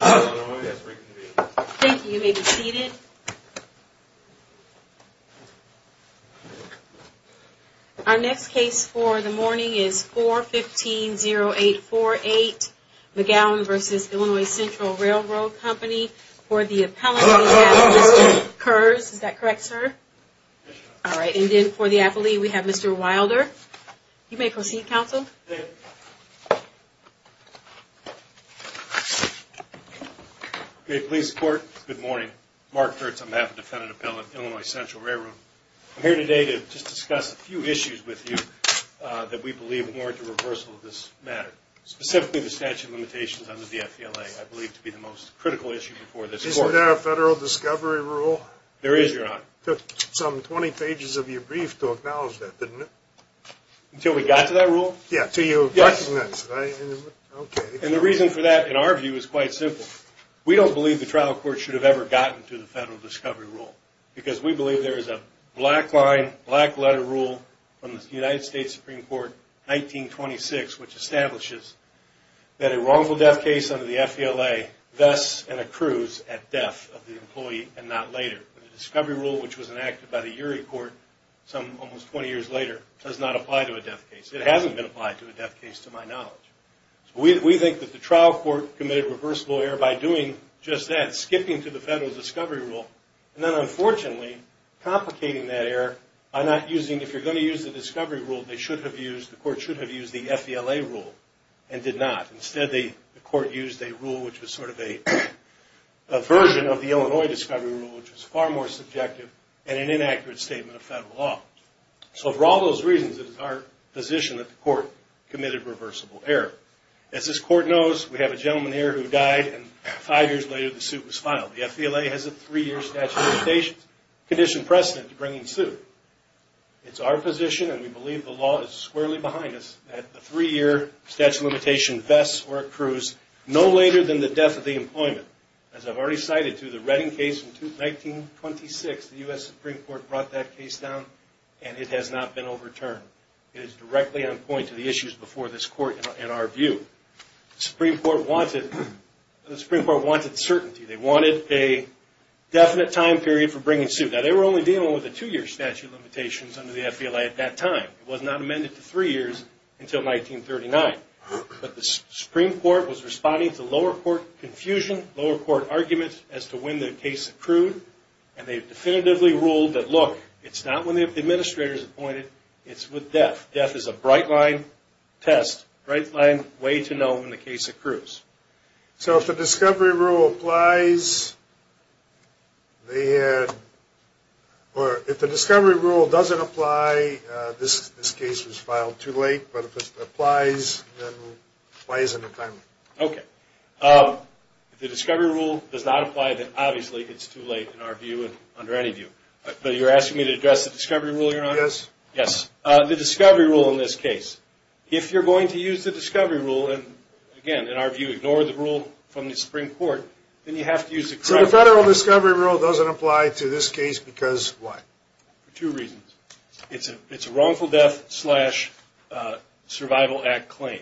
Our next case for the morning is 415-0848 McGowan v. Illinois Central R.R. Co. For the appellant we have Mr. Kers, is that correct sir? Yes ma'am. Alright, and then for the affilee we have Mr. Wilder. You may proceed counsel. Thank you. Good morning. Mark Kurtz on behalf of the Defendant Appellant, Illinois Central R.R. Co. I'm here today to just discuss a few issues with you that we believe warrant a reversal of this matter. Specifically the statute of limitations under the F.E.L.A. I believe to be the most critical issue before this court. Isn't there a federal discovery rule? There is your honor. It took some 20 pages of your brief to acknowledge that didn't it? Thank you. Thank you. Thank you. Thank you. Thank you. Thank you. Thank you. Thank you. Thank you. Thank you. And the reason for that, in our view, is quite simple. We don't believe the trial court should have ever gotten to the federal discovery rule because we believe there is a black line, black letter rule, from the United States Supreme Court, 1926, which establishes that a wrongful death case under the F.E.L.A. thus and accrues at death, of the employee, and not later. The discovery rule, which was enacted by the Urie court almost 20 years later, does not apply to a death case. It hasn't been applied to a death case, to my knowledge. We think that the trial court committed reverse lawyer by doing just that, skipping to the federal discovery rule, and then unfortunately complicating that error by not using, if you're going to use the discovery rule, they should have used, the court should have used the F.E.L.A. rule and did not. Instead, the court used a rule which was sort of a version of the Illinois discovery rule, which was far more subjective and an inaccurate statement of federal law. So for all those reasons, it is our position that the court committed reversible error. As this court knows, we have a gentleman here who died and five years later the suit was filed. The F.E.L.A. has a three-year statute of limitations, condition precedent to bring him to suit. It's our position, and we believe the law is squarely behind us, that the three-year statute of limitations vests or accrues no later than the death of the employment. As I've already cited to the Redding case in 1926, the U.S. Supreme Court brought that case down, and it has not been overturned. It is directly on point to the issues before this court in our view. The Supreme Court wanted certainty. They wanted a definite time period for bringing suit. Now, they were only dealing with a two-year statute of limitations under the F.E.L.A. at that time. It was not amended to three years until 1939. But the Supreme Court was responding to lower court confusion, lower court arguments as to when the case accrued, and they definitively ruled that, look, it's not when the administrator is appointed, it's with death. Death is a bright-line test, bright-line way to know when the case accrues. So if the discovery rule applies, they had, or if the discovery rule doesn't apply, this case was filed too late, but if it applies, then why isn't it timely? Okay. If the discovery rule does not apply, then obviously it's too late in our view and under any view. But you're asking me to address the discovery rule you're on? Yes. Yes, the discovery rule in this case. If you're going to use the discovery rule and, again, in our view, ignore the rule from the Supreme Court, then you have to use the discovery rule. So the federal discovery rule doesn't apply to this case because why? For two reasons. It's a wrongful death slash survival act claim.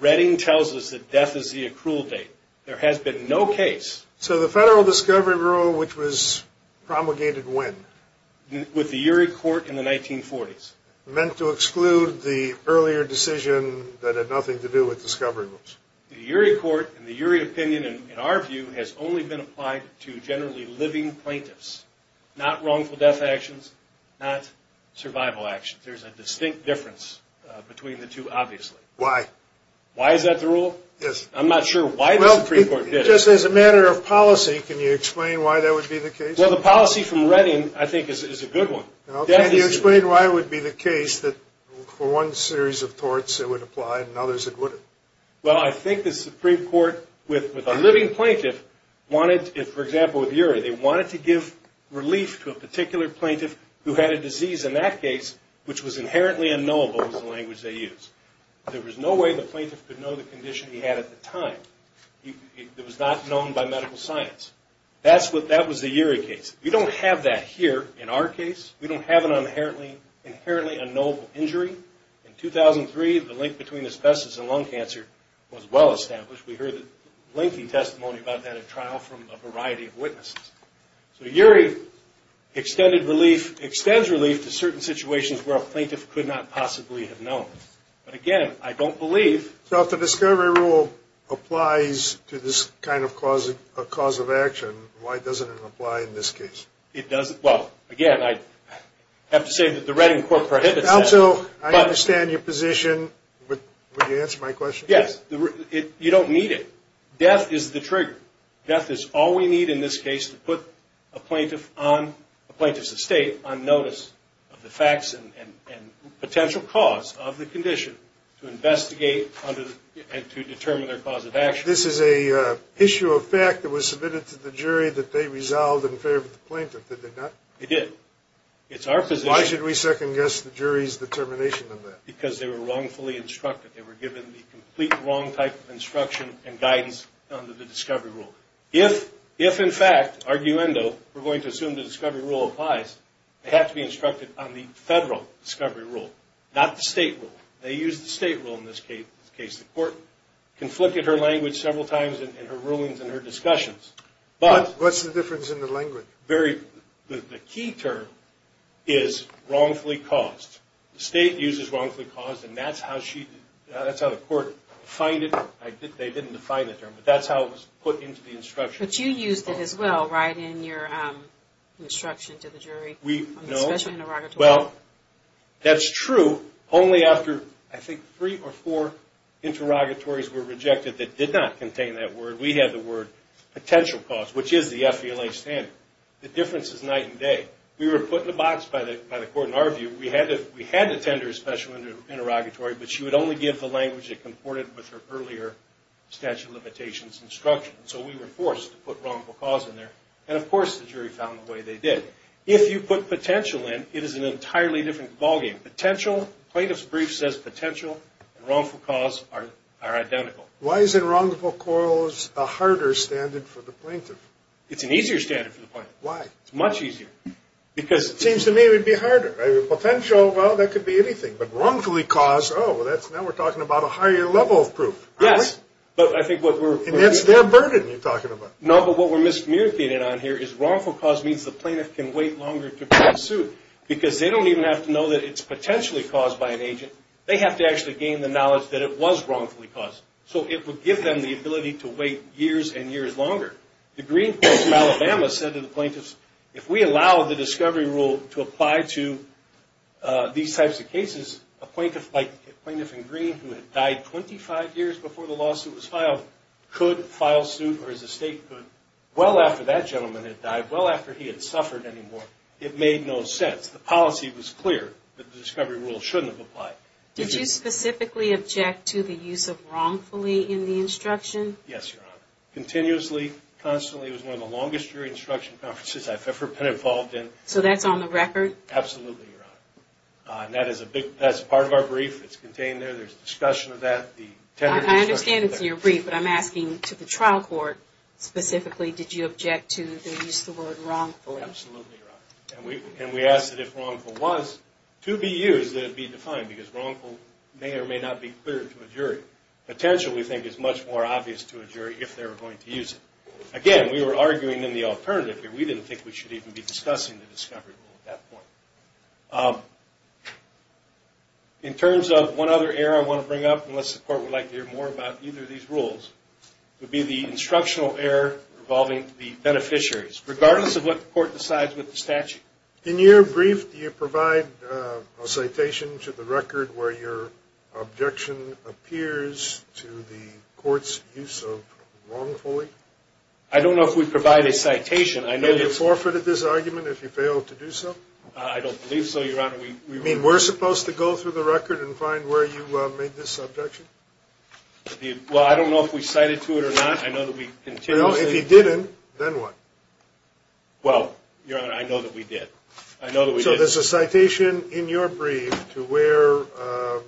Redding tells us that death is the accrual date. There has been no case. So the federal discovery rule, which was promulgated when? With the Urey court in the 1940s. Meant to exclude the earlier decision that had nothing to do with discovery rules. The Urey court and the Urey opinion, in our view, has only been applied to generally living plaintiffs, not wrongful death actions, not survival actions. There's a distinct difference between the two, obviously. Why? Why is that the rule? Yes. I'm not sure why the Supreme Court did it. Just as a matter of policy, can you explain why that would be the case? Well, the policy from Redding, I think, is a good one. Can you explain why it would be the case that for one series of torts it would apply and in others it wouldn't? Well, I think the Supreme Court, with a living plaintiff, wanted, for example, with Urey, they wanted to give relief to a particular plaintiff who had a disease in that case, which was inherently unknowable was the language they used. There was no way the plaintiff could know the condition he had at the time. It was not known by medical science. That was the Urey case. We don't have that here in our case. We don't have an inherently unknowable injury. In 2003, the link between asbestos and lung cancer was well established. We heard a lengthy testimony about that at trial from a variety of witnesses. So Urey extended relief, extends relief, to certain situations where a plaintiff could not possibly have known. But, again, I don't believe. So if the discovery rule applies to this kind of cause of action, why doesn't it apply in this case? It doesn't. Well, again, I have to say that the Redding court prohibits that. Counsel, I understand your position, but would you answer my question? Yes. You don't need it. Death is the trigger. Death is all we need in this case to put a plaintiff's estate on notice of the facts and potential cause of the condition to investigate and to determine their cause of action. This is an issue of fact that was submitted to the jury that they resolved in favor of the plaintiff, did they not? They did. It's our position. Why should we second-guess the jury's determination on that? Because they were wrongfully instructed. They were given the complete wrong type of instruction and guidance under the discovery rule. If, in fact, arguendo, we're going to assume the discovery rule applies, they have to be instructed on the federal discovery rule, not the state rule. They used the state rule in this case. The court conflicted her language several times in her rulings and her discussions. What's the difference in the language? The key term is wrongfully caused. The state uses wrongfully caused, and that's how the court defined it. They didn't define the term, but that's how it was put into the instruction. But you used it as well, right, in your instruction to the jury. No. On the special interrogatory. Well, that's true only after, I think, three or four interrogatories were rejected that did not contain that word. We had the word potential cause, which is the FVLA standard. The difference is night and day. We were put in a box by the court in our view. We had to attend her special interrogatory, but she would only give the language that comported with her earlier statute of limitations instruction. So we were forced to put wrongful cause in there. And, of course, the jury found the way they did. If you put potential in, it is an entirely different ballgame. Potential, plaintiff's brief says potential, and wrongful cause are identical. Why is it wrongful cause a harder standard for the plaintiff? It's an easier standard for the plaintiff. Why? It's much easier. It seems to me it would be harder. Potential, well, that could be anything. But wrongfully cause, oh, now we're talking about a higher level of proof. Yes. And that's their burden you're talking about. No, but what we're miscommunicating on here is wrongful cause means the plaintiff can wait longer to be sued because they don't even have to know that it's potentially caused by an agent. They have to actually gain the knowledge that it was wrongfully caused. So it would give them the ability to wait years and years longer. The Green Court in Alabama said to the plaintiffs, if we allow the discovery rule to apply to these types of cases, a plaintiff like Plaintiff in Green who had died 25 years before the lawsuit was filed could file suit or his estate could well after that gentleman had died, well after he had suffered anymore. It made no sense. The policy was clear that the discovery rule shouldn't have applied. Did you specifically object to the use of wrongfully in the instruction? Yes, Your Honor. Continuously, constantly. It was one of the longest hearing instruction conferences I've ever been involved in. So that's on the record? Absolutely, Your Honor. And that's part of our brief. It's contained there. There's discussion of that. I understand it's in your brief, but I'm asking to the trial court specifically, did you object to the use of the word wrongfully? Oh, absolutely, Your Honor. And we asked that if wrongful was to be used, that it be defined because wrongful may or may not be clear to a jury. Potential, we think, is much more obvious to a jury if they're going to use it. Again, we were arguing in the alternative here. We didn't think we should even be discussing the discovery rule at that point. In terms of one other error I want to bring up, unless the court would like to hear more about either of these rules, would be the instructional error involving the beneficiaries. Regardless of what the court decides with the statute. In your brief, do you provide a citation to the record where your objection appears to the court's use of wrongfully? I don't know if we provide a citation. I know you forfeited this argument if you failed to do so. I don't believe so, Your Honor. You mean we're supposed to go through the record and find where you made this objection? Well, I don't know if we cited to it or not. Well, if you didn't, then what? Well, Your Honor, I know that we did. So there's a citation in your brief to where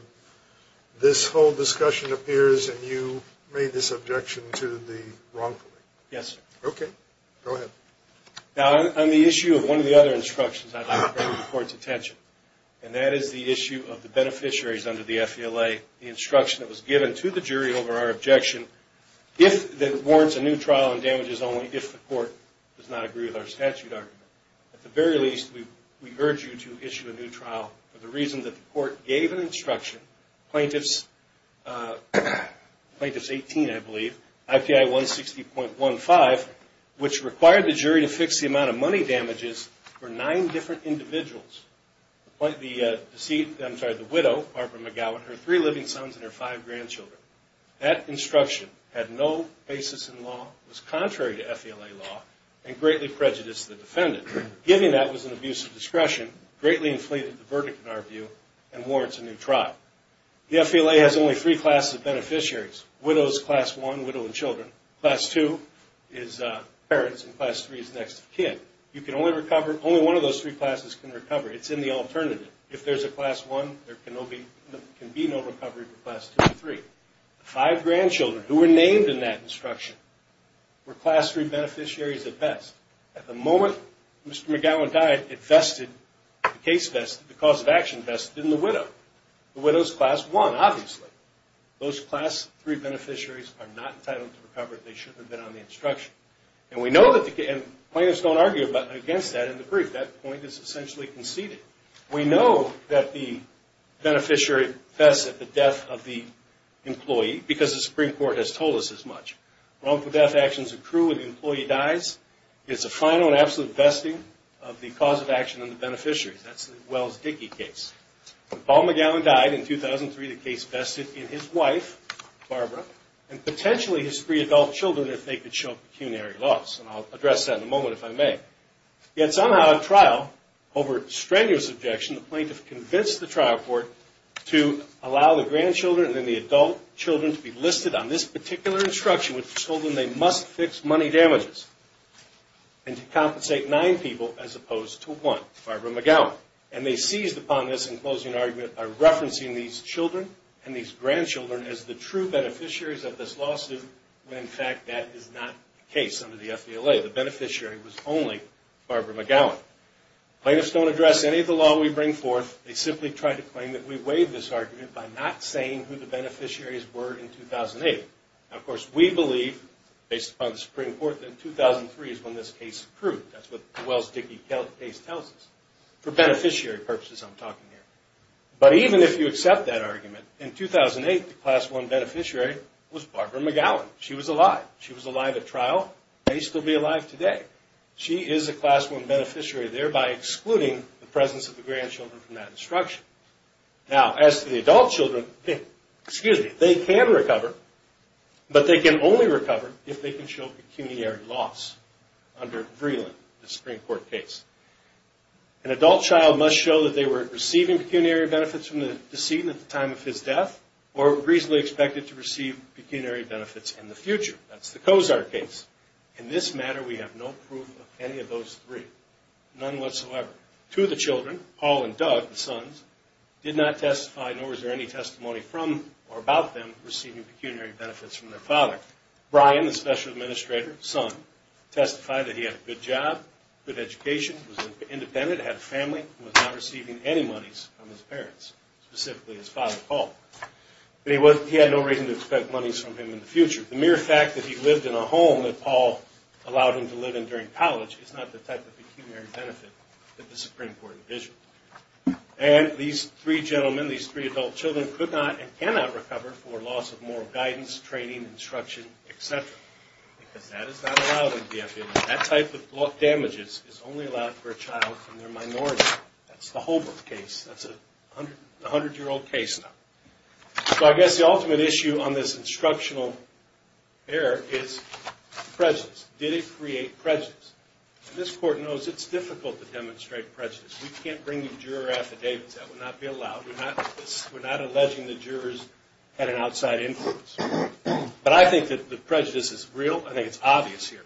this whole discussion appears and you made this objection to the wrongfully. Yes, sir. Okay. Go ahead. Now, on the issue of one of the other instructions, I'd like to bring to the court's attention, and that is the issue of the beneficiaries under the FELA, the instruction that was given to the jury over our objection, that warrants a new trial and damages only if the court does not agree with our statute argument. At the very least, we urge you to issue a new trial for the reason that the court gave an instruction, Plaintiffs 18, I believe, IPI 160.15, which required the jury to fix the amount of money damages for nine different individuals. The widow, Barbara McGowan, her three living sons and her five grandchildren. That instruction had no basis in law, was contrary to FELA law, and greatly prejudiced the defendant. Giving that was an abuse of discretion, greatly inflated the verdict in our view, and warrants a new trial. The FELA has only three classes of beneficiaries. Widow is class one, widow and children. Class two is parents, and class three is next of kin. You can only recover, only one of those three classes can recover. It's in the alternative. If there's a class one, there can be no recovery for class two and three. The five grandchildren who were named in that instruction were class three beneficiaries at best. At the moment Mr. McGowan died, it vested, the case vested, the cause of action vested in the widow. The widow is class one, obviously. Those class three beneficiaries are not entitled to recover. They shouldn't have been on the instruction. And plaintiffs don't argue against that in the brief. That point is essentially conceded. We know that the beneficiary vests at the death of the employee because the Supreme Court has told us as much. Wrongful death actions accrue when the employee dies. It's a final and absolute vesting of the cause of action in the beneficiary. That's the Wells-Dickey case. When Paul McGowan died in 2003, the case vested in his wife, Barbara, and potentially his three adult children if they could show pecuniary loss. And I'll address that in a moment if I may. Yet somehow at trial, over strenuous objection, the plaintiff convinced the trial court to allow the grandchildren and then the adult children to be listed on this particular instruction which told them they must fix money damages and to compensate nine people as opposed to one, Barbara McGowan. And they seized upon this in closing argument by referencing these children and these grandchildren as the true beneficiaries of this lawsuit when in fact that is not the case under the FDLA. The beneficiary was only Barbara McGowan. Plaintiffs don't address any of the law we bring forth. They simply try to claim that we waive this argument by not saying who the beneficiaries were in 2008. Now, of course, we believe based upon the Supreme Court that in 2003 is when this case accrued. That's what the Wells-Dickey case tells us. For beneficiary purposes I'm talking here. But even if you accept that argument, in 2008 the class one beneficiary was Barbara McGowan. She was alive. She was alive at trial. May still be alive today. She is a class one beneficiary, thereby excluding the presence of the grandchildren from that instruction. Now, as to the adult children, they can recover, but they can only recover if they can show pecuniary loss under Vreeland, the Supreme Court case. An adult child must show that they were receiving pecuniary benefits from the decedent at the time of his death or reasonably expected to receive pecuniary benefits in the future. That's the Cozart case. In this matter we have no proof of any of those three. None whatsoever. Two of the children, Paul and Doug, the sons, did not testify nor was there any testimony from or about them receiving pecuniary benefits from their father. Brian, the special administrator's son, testified that he had a good job, good education, was independent, had a family, and was not receiving any monies from his parents, specifically his father Paul. But he had no reason to expect monies from him in the future. The mere fact that he lived in a home that Paul allowed him to live in during college is not the type of pecuniary benefit that the Supreme Court envisioned. And these three gentlemen, these three adult children, could not and cannot recover for loss of moral guidance, training, instruction, et cetera, because that is not allowed under the FAA. That type of damages is only allowed for a child from their minority. That's the Holbrook case. That's a 100-year-old case now. So I guess the ultimate issue on this instructional error is prejudice. Did it create prejudice? And this Court knows it's difficult to demonstrate prejudice. We can't bring you juror affidavits. That would not be allowed. We're not alleging the jurors had an outside influence. But I think that the prejudice is real. I think it's obvious here.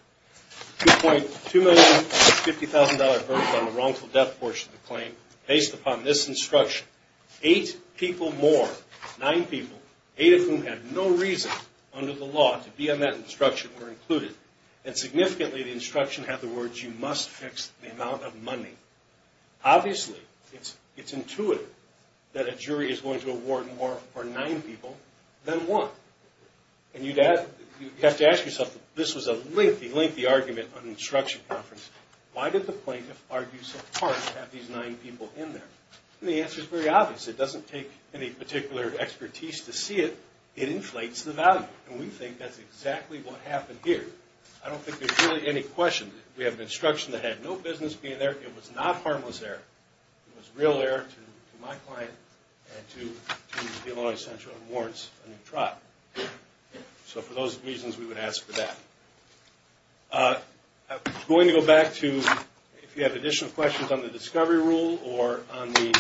$2,050,000 verdict on the wrongful death portion of the claim based upon this instruction. Eight people more, nine people, eight of whom had no reason under the law to be on that instruction or included. And significantly, the instruction had the words, you must fix the amount of money. Obviously, it's intuitive that a jury is going to award more for nine people than one. And you'd have to ask yourself, this was a lengthy, lengthy argument on an instruction conference. Why did the plaintiff argue so hard to have these nine people in there? And the answer is very obvious. It doesn't take any particular expertise to see it. It inflates the value. And we think that's exactly what happened here. I don't think there's really any question. We have an instruction that had no business being there. It was not harmless error. It was real error to my client and to Illinois Central and warrants a new trial. So for those reasons, we would ask for that. I'm going to go back to if you have additional questions on the discovery rule or on the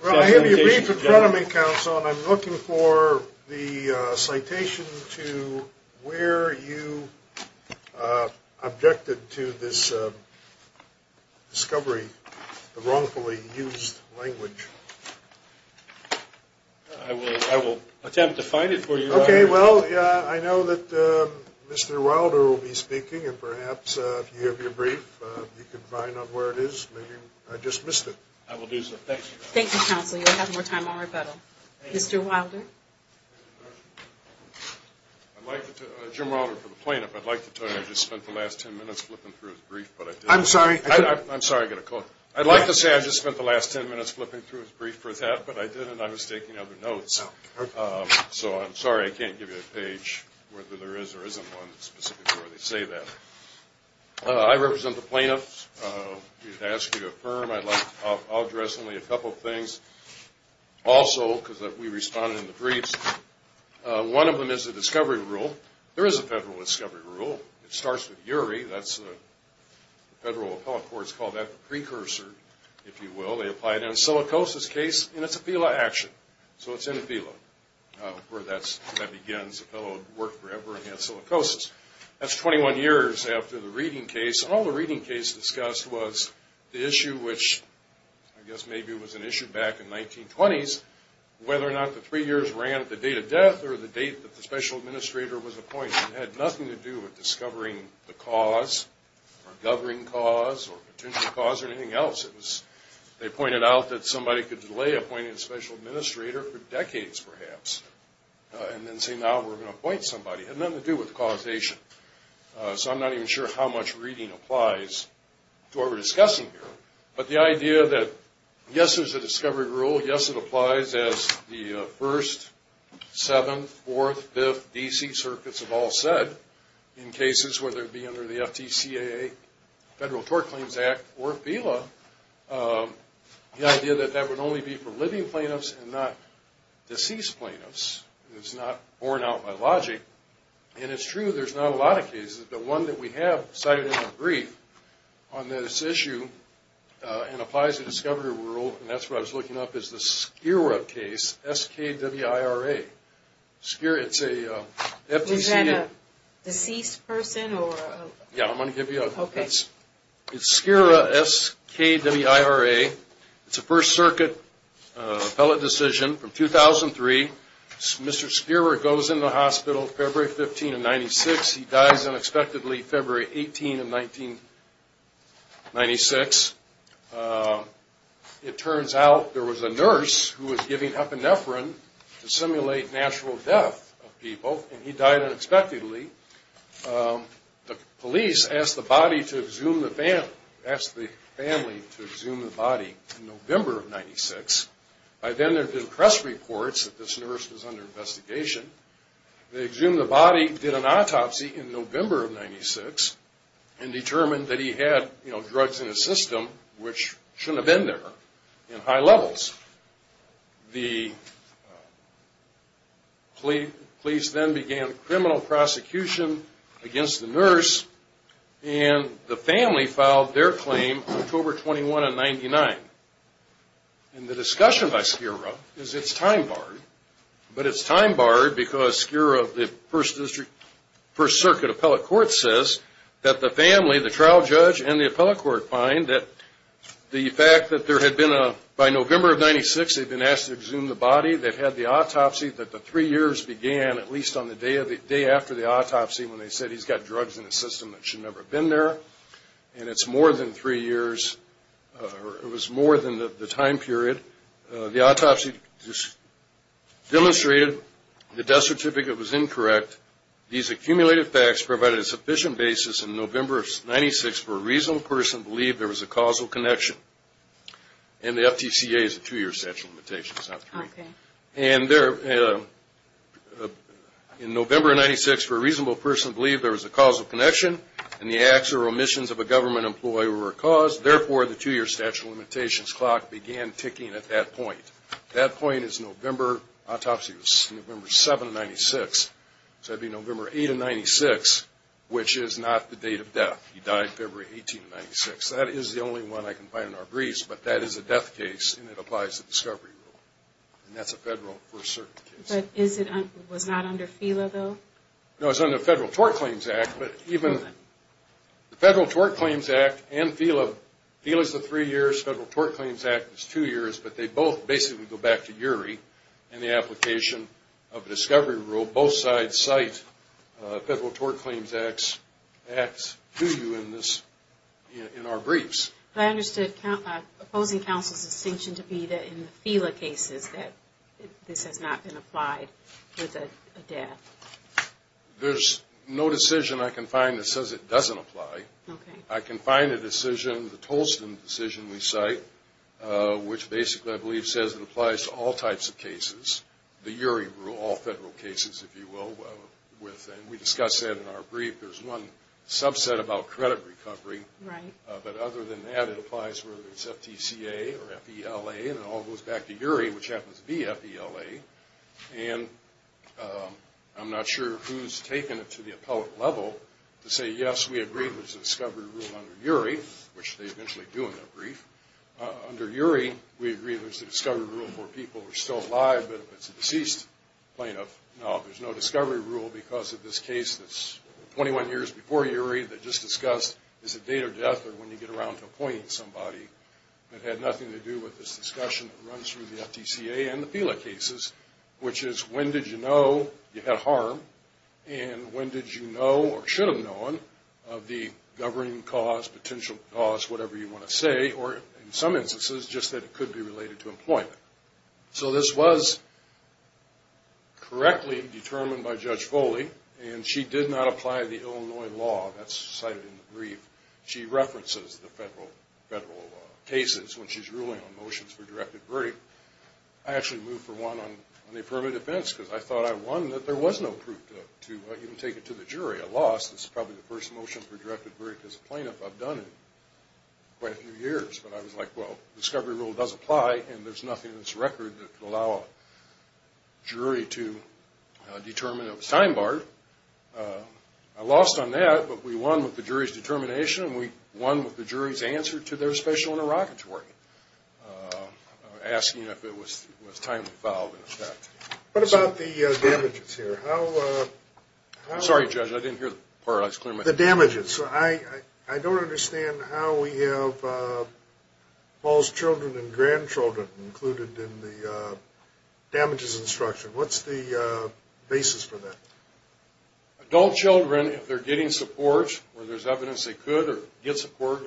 presentation agenda. Well, I have your brief in front of me, Counsel, and I'm looking for the citation to where you objected to this discovery, the wrongfully used language. I will attempt to find it for you. Okay. Well, I know that Mr. Wilder will be speaking, and perhaps if you have your brief, you can find out where it is. Maybe I just missed it. I will do so. Thank you. Thank you, Counsel. You'll have more time on rebuttal. Mr. Wilder. Jim Wilder for the plaintiff. I'd like to tell you I just spent the last ten minutes flipping through his brief, but I didn't. I'm sorry. I'm sorry. I've got to call. I'd like to say I just spent the last ten minutes flipping through his brief for that, but I didn't. I was taking other notes. So I'm sorry I can't give you a page whether there is or isn't one specifically where they say that. I represent the plaintiffs. We've asked you to affirm. I'd like to address only a couple of things. Also, because we responded in the briefs, one of them is the discovery rule. There is a federal discovery rule. It starts with URI. The federal appellate court has called that the precursor, if you will. They apply it in a silicosis case, and it's a FELA action. So it's in a FELA where that begins. A fellow worked forever and he had silicosis. That's 21 years after the reading case. Another thing that was discussed was the issue, which I guess maybe was an issue back in 1920s, whether or not the three years ran at the date of death or the date that the special administrator was appointed. It had nothing to do with discovering the cause or governing cause or potential cause or anything else. They pointed out that somebody could delay appointing a special administrator for decades, perhaps, and then say now we're going to appoint somebody. It had nothing to do with causation. So I'm not even sure how much reading applies to what we're discussing here. But the idea that yes, there's a discovery rule. Yes, it applies, as the First, Seventh, Fourth, Fifth, D.C. Circuits have all said, in cases whether it be under the FTCAA, Federal Tort Claims Act, or FELA, the idea that that would only be for living plaintiffs and not deceased plaintiffs is not borne out by logic. And it's true there's not a lot of cases, but one that we have cited in the brief on this issue and applies the discovery rule, and that's what I was looking up, is the Skira case, S-K-W-I-R-A. Skira, it's a FTCA. Is that a deceased person or a? Yeah, I'm going to give you a. Okay. It's Skira, S-K-W-I-R-A. It's a First Circuit appellate decision from 2003. Mr. Skira goes into the hospital February 15 of 1996. He dies unexpectedly February 18 of 1996. It turns out there was a nurse who was giving epinephrine to simulate natural death of people, and he died unexpectedly. The police asked the family to exhume the body in November of 1996. By then there had been press reports that this nurse was under investigation. They exhumed the body, did an autopsy in November of 1996, and determined that he had drugs in his system which shouldn't have been there in high levels. The police then began criminal prosecution against the nurse, and the family filed their claim October 21 of 1999. And the discussion by Skira is it's time barred, but it's time barred because Skira of the First Circuit appellate court says that the family, the trial judge and the appellate court find that the fact that there had been a, by November of 1996 they'd been asked to exhume the body. They've had the autopsy that the three years began at least on the day after the autopsy when they said he's got drugs in his system that should never have been there, and it's more than three years, or it was more than the time period. The autopsy demonstrated the death certificate was incorrect. These accumulated facts provided a sufficient basis in November of 1996 for a reasonable person to believe there was a causal connection, and the FTCA is a two-year statute of limitations, not three. And in November of 1996 for a reasonable person to believe there was a causal connection, and the acts or omissions of a government employee were a cause, therefore the two-year statute of limitations clock began ticking at that point. That point is November, autopsy was November 7 of 96, so that would be November 8 of 96, which is not the date of death. He died February 18 of 96. That is the only one I can find in our briefs, but that is a death case, and it applies to discovery rule, and that's a federal First Circuit case. But is it, was not under FELA though? No, it's under the Federal Tort Claims Act. But even the Federal Tort Claims Act and FELA, FELA is the three years, Federal Tort Claims Act is two years, but they both basically go back to URI in the application of discovery rule. Both sides cite Federal Tort Claims Act to you in our briefs. But I understood opposing counsel's distinction to be that in the FELA cases that this has not been applied with a death. There's no decision I can find that says it doesn't apply. I can find a decision, the Tolsten decision we cite, which basically I believe says it applies to all types of cases, the URI rule, all federal cases, if you will. We discuss that in our brief. There's one subset about credit recovery, but other than that, it applies whether it's FTCA or FELA, and it all goes back to URI, which happens to be FELA. And I'm not sure who's taken it to the appellate level to say, yes, we agree there's a discovery rule under URI, which they eventually do in their brief. Under URI, we agree there's a discovery rule for people who are still alive, but if it's a deceased plaintiff, no, there's no discovery rule because of this case that's 21 years before URI that just discussed, is it date of death or when you get around to appointing somebody. It had nothing to do with this discussion that runs through the FTCA and the FELA cases, which is when did you know you had harm, and when did you know or should have known of the governing cause, potential cause, whatever you want to say, or in some instances, just that it could be related to employment. So this was correctly determined by Judge Foley, and she did not apply the Illinois law. That's cited in the brief. She references the federal cases when she's ruling on motions for directed verdict. I actually moved for one on the affirmative defense because I thought I won that there was no proof to even take it to the jury. I lost. This is probably the first motion for directed verdict as a plaintiff I've done in quite a few years. But I was like, well, discovery rule does apply, and there's nothing in this record that could allow a jury to determine it was time barred. I lost on that, but we won with the jury's determination, and we won with the jury's answer to their special interrogatory, asking if it was time to file an offense. What about the damages here? I'm sorry, Judge, I didn't hear the part. The damages. I don't understand how we have false children and grandchildren included in the damages instruction. What's the basis for that? Adult children, if they're getting support or there's evidence they could or get support,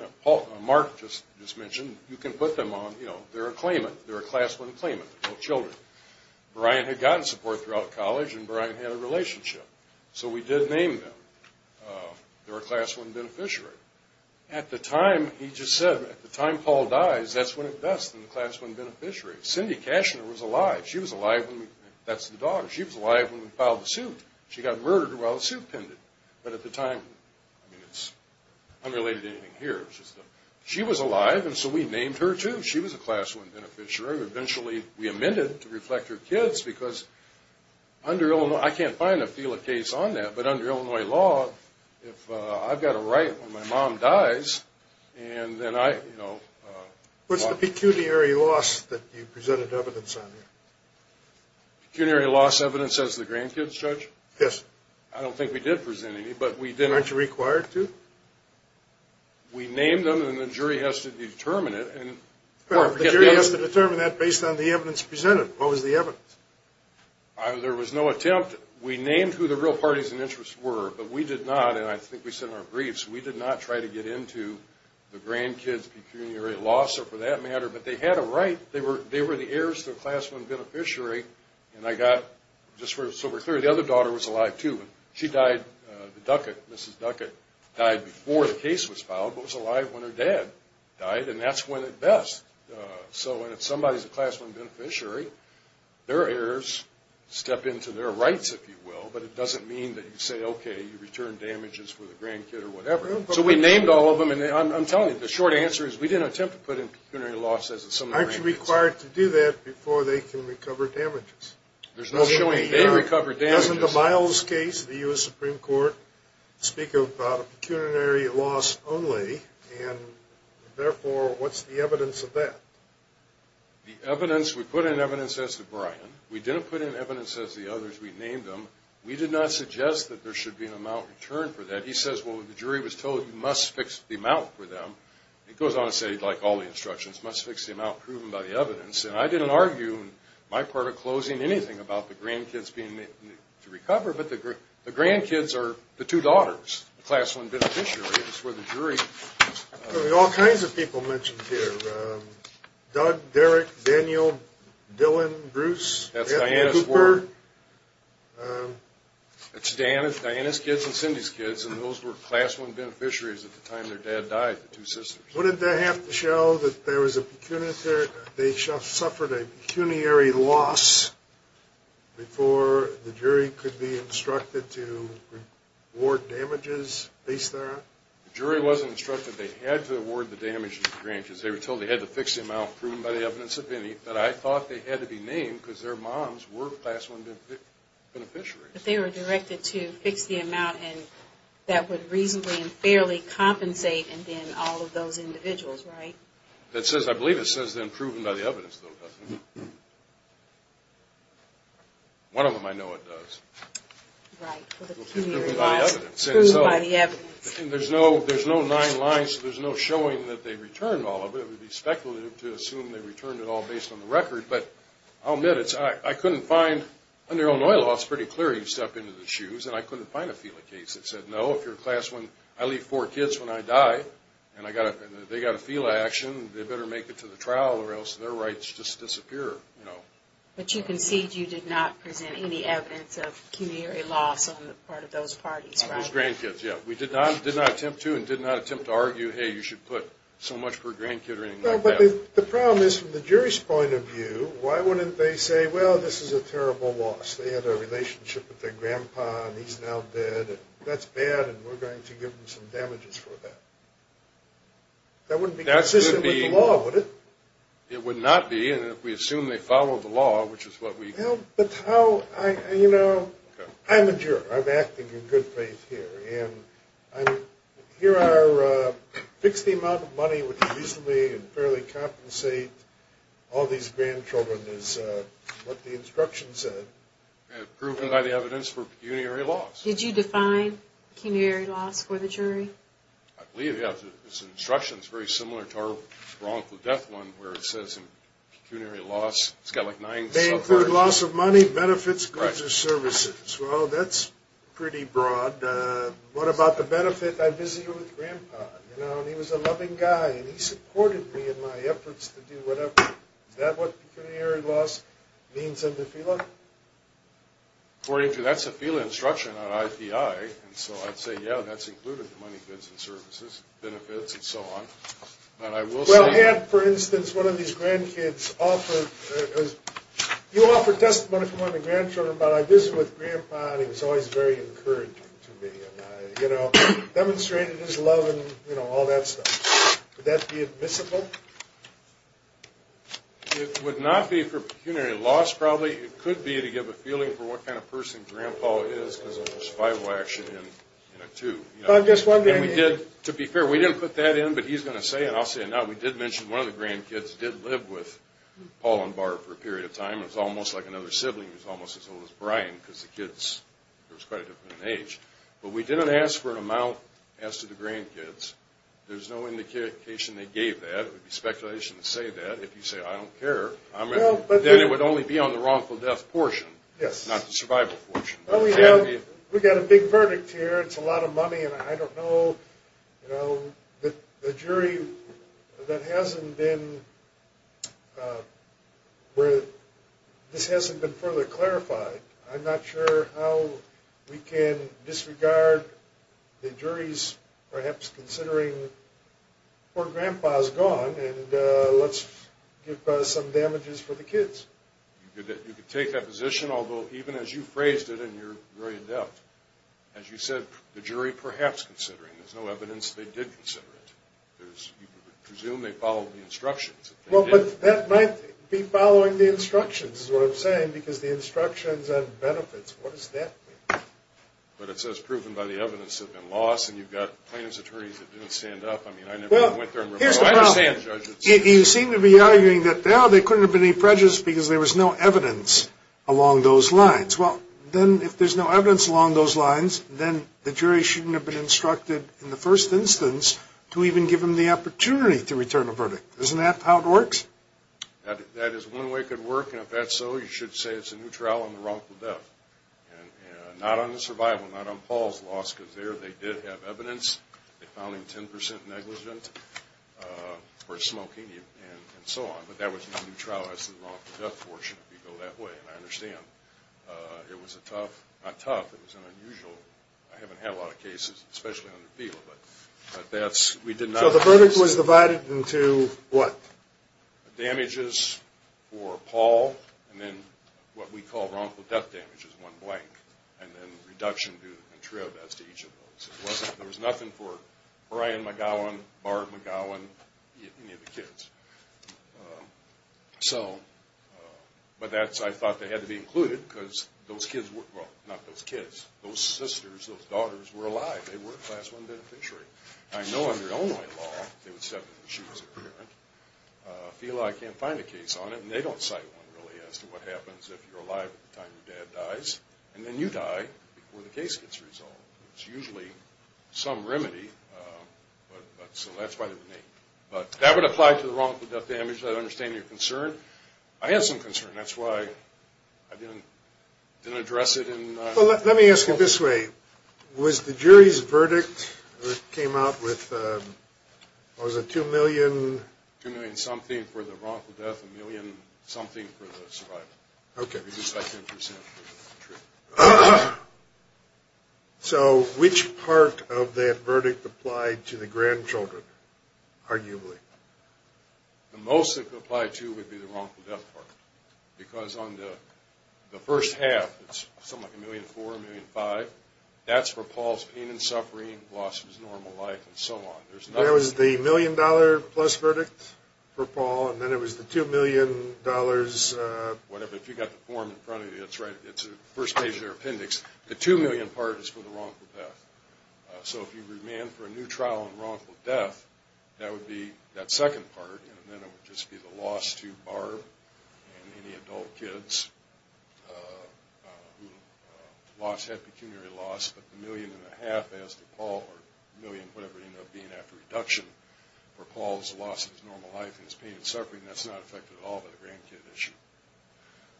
Mark just mentioned, you can put them on. They're a class one claimant, adult children. Brian had gotten support throughout college, and Brian had a relationship. So we did name them. They're a class one beneficiary. At the time, he just said, at the time Paul dies, that's when it does, the class one beneficiary. Cindy Cashner was alive. She was alive. That's the daughter. She was alive when we filed the suit. She got murdered while the suit pended. But at the time, I mean, it's unrelated to anything here. She was alive, and so we named her, too. She was a class one beneficiary. Eventually we amended it to reflect her kids because under Illinois, I can't find a FELA case on that, but under Illinois law, if I've got a right when my mom dies, and then I, you know. What's the pecuniary loss that you presented evidence on here? Pecuniary loss evidence as the grandkids, Judge? Yes. I don't think we did present any, but we did. Aren't you required to? We named them, and the jury has to determine it. The jury has to determine that based on the evidence presented. What was the evidence? There was no attempt. We named who the real parties and interests were, but we did not, and I think we said in our briefs, we did not try to get into the grandkids' pecuniary loss, or for that matter. But they had a right. They were the heirs to a class one beneficiary, and I got, just so we're clear, the other daughter was alive, too. She died, Mrs. Duckett, died before the case was filed, but was alive when her dad died, and that's when it best. So when somebody's a class one beneficiary, their heirs step into their rights, if you will, but it doesn't mean that you say, okay, you return damages for the grandkid or whatever. So we named all of them, and I'm telling you, the short answer is we didn't attempt to put in pecuniary loss as a summary. Aren't you required to do that before they can recover damages? There's no showing they recovered damages. Doesn't the Miles case, the U.S. Supreme Court, speak about a pecuniary loss only, and therefore, what's the evidence of that? The evidence, we put in evidence as to Brian. We didn't put in evidence as to the others. We named them. We did not suggest that there should be an amount returned for that. He says, well, the jury was told you must fix the amount for them. He goes on to say, like all the instructions, must fix the amount proven by the evidence, and I didn't argue in my part of closing anything about the grandkids being made to recover, but the grandkids are the two daughters, the class one beneficiaries, where the jury. There are all kinds of people mentioned here, Doug, Derek, Daniel, Dylan, Bruce, that's Diana's work. It's Diana's kids and Cindy's kids, and those were class one beneficiaries at the time their dad died, the two sisters. Wouldn't that have to show that there was a pecuniary, they suffered a pecuniary loss before the jury could be instructed to award damages based there on? The jury wasn't instructed. They had to award the damages to the grandkids. They were told they had to fix the amount proven by the evidence of Vinny, that I thought they had to be named because their moms were class one beneficiaries. But they were directed to fix the amount that would reasonably and fairly compensate and then all of those individuals, right? I believe it says then proven by the evidence, though, doesn't it? One of them I know it does. Right. Pecuniary loss proven by the evidence. There's no nine lines, there's no showing that they returned all of it. It would be speculative to assume they returned it all based on the record, but I'll admit I couldn't find, under Illinois law, it's pretty clear you step into the shoes, and I couldn't find a FELA case that said, no, if you're a class one, I leave four kids when I die, and they got a FELA action, they better make it to the trial or else their rights just disappear. But you concede you did not present any evidence of pecuniary loss on the part of those parties, right? On those grandkids, yeah. We did not attempt to and did not attempt to argue, hey, you should put so much for a grandkid or anything like that. Well, but the problem is from the jury's point of view, why wouldn't they say, well, this is a terrible loss? They had a relationship with their grandpa, and he's now dead, and that's bad, and we're going to give them some damages for that. That wouldn't be consistent with the law, would it? It would not be, and if we assume they follow the law, which is what we do. But how I, you know, I'm a juror. I'm acting in good faith here. And here our fixed amount of money would be easily and fairly compensate all these grandchildren is what the instruction said. And proven by the evidence for pecuniary loss. Did you define pecuniary loss for the jury? I believe, yeah. This instruction is very similar to our wrongful death one where it says pecuniary loss. They include loss of money, benefits, goods, or services. Well, that's pretty broad. What about the benefit? I visited with grandpa, you know, and he was a loving guy, and he supported me in my efforts to do whatever. Is that what pecuniary loss means under FILA? According to that's a FILA instruction, not IPI. And so I'd say, yeah, that's included the money, goods, and services, benefits, and so on. Well, had, for instance, one of these grandkids offered, you offered testimony from one of the grandchildren, but I visited with grandpa, and he was always very encouraging to me. You know, demonstrated his love and, you know, all that stuff. Would that be admissible? It would not be for pecuniary loss, probably. It could be to give a feeling for what kind of person grandpa is because of his FILA action in it, too. To be fair, we didn't put that in, but he's going to say it, and I'll say it now. We did mention one of the grandkids did live with Paul and Barb for a period of time. It was almost like another sibling was almost as old as Brian because the kids were quite a different age. But we didn't ask for an amount as to the grandkids. There's no indication they gave that. It would be speculation to say that. If you say, I don't care, then it would only be on the wrongful death portion, not the survival portion. Well, we got a big verdict here. It's a lot of money, and I don't know, you know, the jury that hasn't been – this hasn't been further clarified. I'm not sure how we can disregard the juries perhaps considering poor grandpa is gone, and let's give some damages for the kids. You could take that position, although even as you phrased it and you're very adept, as you said, the jury perhaps considering. There's no evidence they did consider it. You would presume they followed the instructions. Well, but that might be following the instructions is what I'm saying because the instructions on benefits. What does that mean? But it says proven by the evidence have been lost, and you've got plaintiff's attorneys that didn't stand up. I mean, I never went there and reported. I understand, Judge. You seem to be arguing that, no, there couldn't have been any prejudice because there was no evidence along those lines. Well, then if there's no evidence along those lines, then the jury shouldn't have been instructed in the first instance to even give them the opportunity to return a verdict. Isn't that how it works? That is one way it could work, and if that's so, you should say it's a neutral on the wrongful death, and not on the survival, not on Paul's loss because there they did have evidence. They found him 10% negligent for smoking and so on, but that was a neutral. That's the wrongful death portion if you go that way, and I understand. It was a tough, not tough, it was an unusual. I haven't had a lot of cases, especially on appeal, but that's, we did not. So the verdict was divided into what? Damages for Paul, and then what we call wrongful death damages, one blank, and then reduction due to contrivance to each of those. It wasn't, there was nothing for Brian McGowan, Barb McGowan, any of the kids. So, but that's, I thought they had to be included because those kids were, well, not those kids, those sisters, those daughters were alive. They were a class one beneficiary. I know under Illinois law, they would step in when she was a parent. I feel I can't find a case on it, and they don't cite one really as to what happens if you're alive at the time your dad dies, and then you die before the case gets resolved. It's usually some remedy, but, so that's why they were named. But that would apply to the wrongful death damages. I understand your concern. I had some concern. That's why I didn't address it in public. Well, let me ask you this way. Was the jury's verdict, it came out with, what was it, two million? Two million-something for the wrongful death, a million-something for the survival. Okay. So, which part of that verdict applied to the grandchildren, arguably? The most it could apply to would be the wrongful death part, because on the first half, it's something like a million-four, a million-five. That's for Paul's pain and suffering, loss of his normal life, and so on. There was the million-dollar-plus verdict for Paul, and then it was the two million-dollars. Whatever, if you've got the form in front of you, that's right. It's the first page of their appendix. The two million part is for the wrongful death. So, if you remand for a new trial on wrongful death, that would be that second part, and then it would just be the loss to Barb and any adult kids who lost, had pecuniary loss, but the million-and-a-half as to Paul, or a million-whatever it ended up being after reduction, for Paul's loss of his normal life and his pain and suffering, that's not affected at all by the grandkid issue.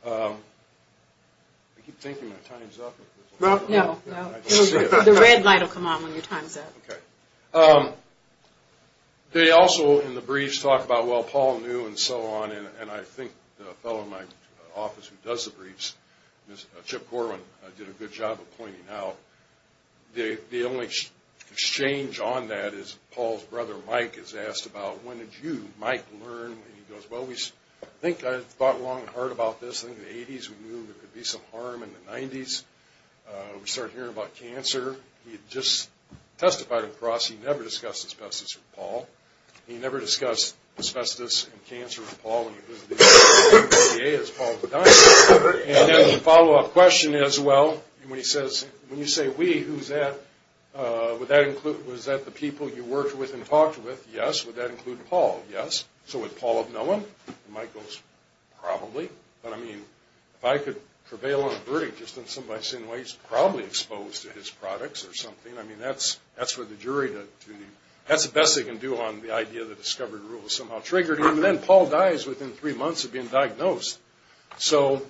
I keep thinking my time's up. No, no. The red light will come on when your time's up. Okay. They also, in the briefs, talk about, well, Paul knew, and so on, and I think the fellow in my office who does the briefs, Chip Corwin, did a good job of pointing out, the only exchange on that is Paul's brother Mike is asked about, when did you, Mike, learn? And he goes, well, I think I thought long and hard about this. I think in the 80s, we knew there could be some harm. In the 90s, we started hearing about cancer. He had just testified across. He never discussed asbestos with Paul. He never discussed asbestos and cancer with Paul. And it was the FDA, as Paul had done. And then the follow-up question is, well, when you say we, who's that? Was that the people you worked with and talked with? Yes. Would that include Paul? Yes. So would Paul have known? Mike goes, probably. But, I mean, if I could prevail on a verdict just in some bystander's way, he's probably exposed to his products or something. I mean, that's for the jury to do. That's the best they can do on the idea that discovery rules somehow triggered him. And then Paul dies within three months of being diagnosed. So,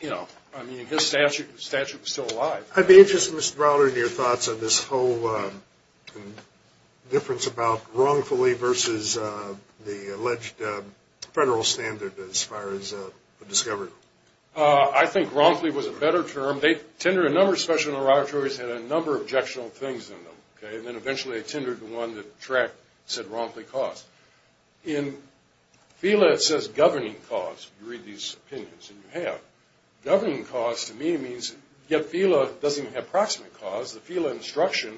you know, I mean, his statute was still alive. I'd be interested, Mr. Browder, in your thoughts on this whole difference about wrongfully versus the alleged federal standard as far as discovery. I think wrongfully was a better term. They tendered a number of special interrogatories that had a number of objectionable things in them. And then eventually they tendered the one that said wrongfully caused. In FELA it says governing cause. You read these opinions, and you have. Governing cause to me means, yet FELA doesn't have proximate cause. The FELA instruction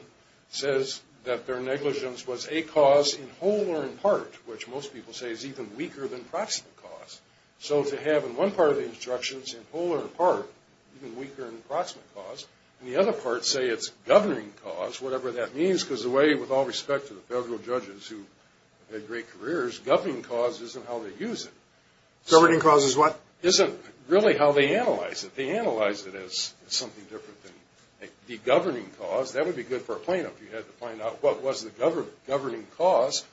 says that their negligence was a cause in whole or in part, which most people say is even weaker than proximate cause. So to have in one part of the instructions in whole or in part, even weaker than proximate cause, and the other parts say it's governing cause, whatever that means, because the way, with all respect to the federal judges who had great careers, governing cause isn't how they use it. Governing cause is what? Isn't really how they analyze it. They analyze it as something different than the governing cause. That would be good for a plaintiff. You had to find out what was the governing cause.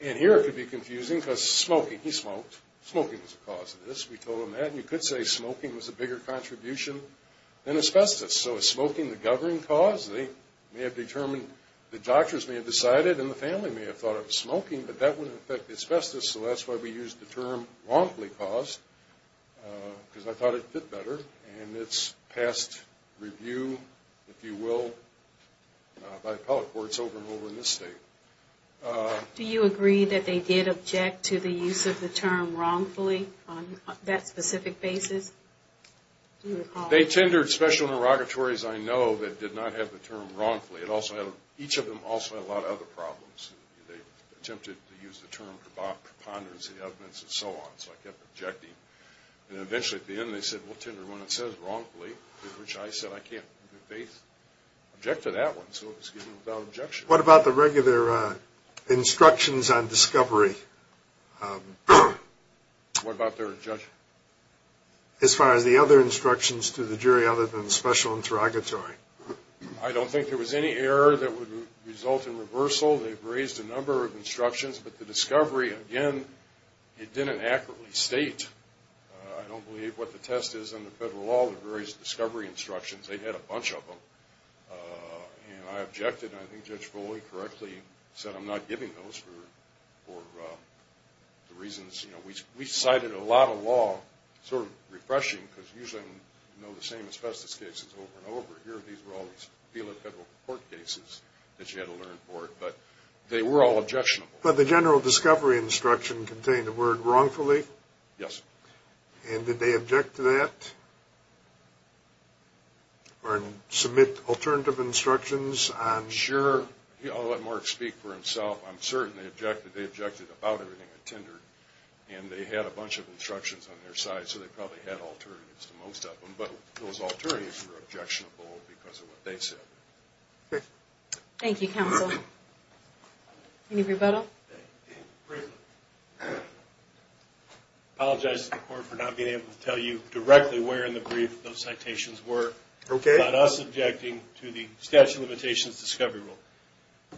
And here it could be confusing because smoking. He smoked. Smoking was a cause of this. We told him that. And you could say smoking was a bigger contribution than asbestos. So is smoking the governing cause? They may have determined, the doctors may have decided, and the family may have thought it was smoking, but that wouldn't affect the asbestos, so that's why we used the term wrongfully caused because I thought it fit better. And it's passed review, if you will, by appellate courts over and over in this state. Do you agree that they did object to the use of the term wrongfully on that specific basis? Do you recall? They tendered special interrogatories, I know, that did not have the term wrongfully. Each of them also had a lot of other problems. They attempted to use the term preponderance of evidence and so on. So I kept objecting. And eventually at the end they said, well, tender when it says wrongfully, which I said I can't in good faith object to that one. So it was given without objection. What about the regular instructions on discovery? What about their judgment? As far as the other instructions to the jury other than special interrogatory. I don't think there was any error that would result in reversal. They've raised a number of instructions. But the discovery, again, it didn't accurately state, I don't believe, what the test is under federal law. They've raised discovery instructions. They had a bunch of them. And I objected. And I think Judge Foley correctly said I'm not giving those for the reasons, you know, we cited a lot of law, sort of refreshing, because usually I know the same asbestos cases over and over. Here these were all these federal court cases that you had to learn for. But they were all objectionable. But the general discovery instruction contained the word wrongfully? Yes. And did they object to that or submit alternative instructions? Sure. I'll let Mark speak for himself. I'm certain they objected. They objected about everything they tendered. And they had a bunch of instructions on their side, so they probably had alternatives to most of them. But those alternatives were objectionable because of what they said. Okay. Thank you, counsel. Any rebuttal? Great. I apologize to the court for not being able to tell you directly where in the brief those citations were. Okay. Not us objecting to the statute of limitations discovery rule.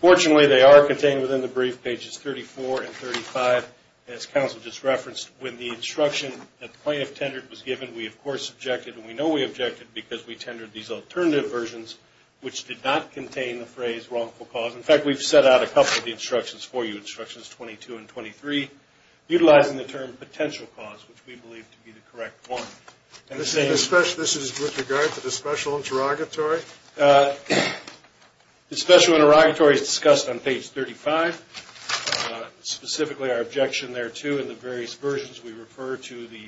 Fortunately, they are contained within the brief, pages 34 and 35, as counsel just referenced. When the instruction that the plaintiff tendered was given, we, of course, objected. And we know we objected because we tendered these alternative versions, which did not contain the phrase wrongful cause. In fact, we've set out a couple of the instructions for you, instructions 22 and 23, utilizing the term potential cause, which we believe to be the correct one. And this is with regard to the special interrogatory? The special interrogatory is discussed on page 35. Specifically, our objection there, too, we refer to the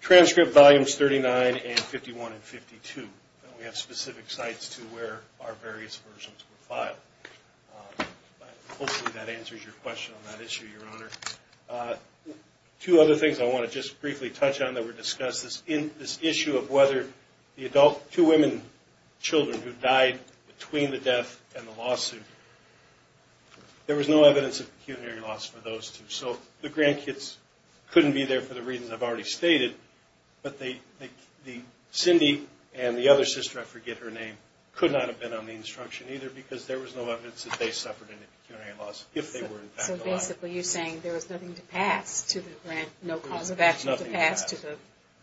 transcript volumes 39 and 51 and 52. And we have specific sites to where our various versions were filed. Hopefully that answers your question on that issue, Your Honor. Two other things I want to just briefly touch on that were discussed, this issue of whether the two women children who died between the death and the lawsuit, there was no evidence of pecuniary loss for those two. So the grandkids couldn't be there for the reasons I've already stated. But Cindy and the other sister, I forget her name, could not have been on the instruction either because there was no evidence that they suffered any pecuniary loss if they were in fact alive. So basically you're saying there was nothing to pass to the grandkids, no cause of action to pass to the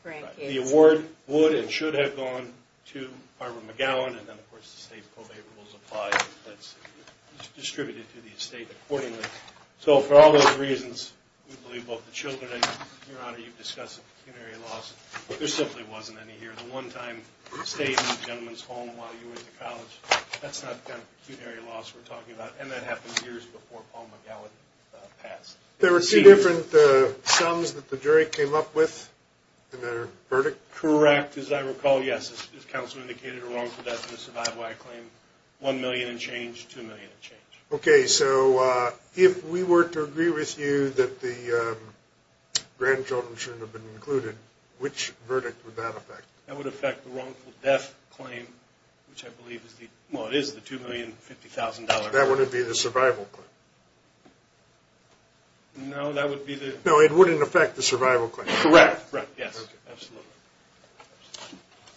grandkids. The award would and should have gone to Barbara McGowan. And then, of course, the state probate rules apply and it's distributed to the state accordingly. So for all those reasons, we believe both the children and, Your Honor, you've discussed the pecuniary loss. There simply wasn't any here. The one-time stay in the gentleman's home while you were in college, that's not the kind of pecuniary loss we're talking about. And that happened years before Paul McGowan passed. There were two different sums that the jury came up with in their verdict? Correct. As I recall, yes. As counsel indicated, a wrongful death in a survival act claim, $1 million and change, $2 million and change. Okay. So if we were to agree with you that the grandchildren shouldn't have been included, which verdict would that affect? That would affect the wrongful death claim, which I believe is the, well, it is the $2 million and $50,000. That wouldn't be the survival claim? No, that would be the... No, it wouldn't affect the survival claim? Correct. Yes. Okay. Absolutely.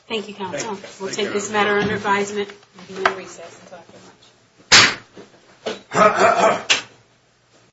Thank you, counsel. Thank you. Is this matter under advisement? We will recess. Thank you very much.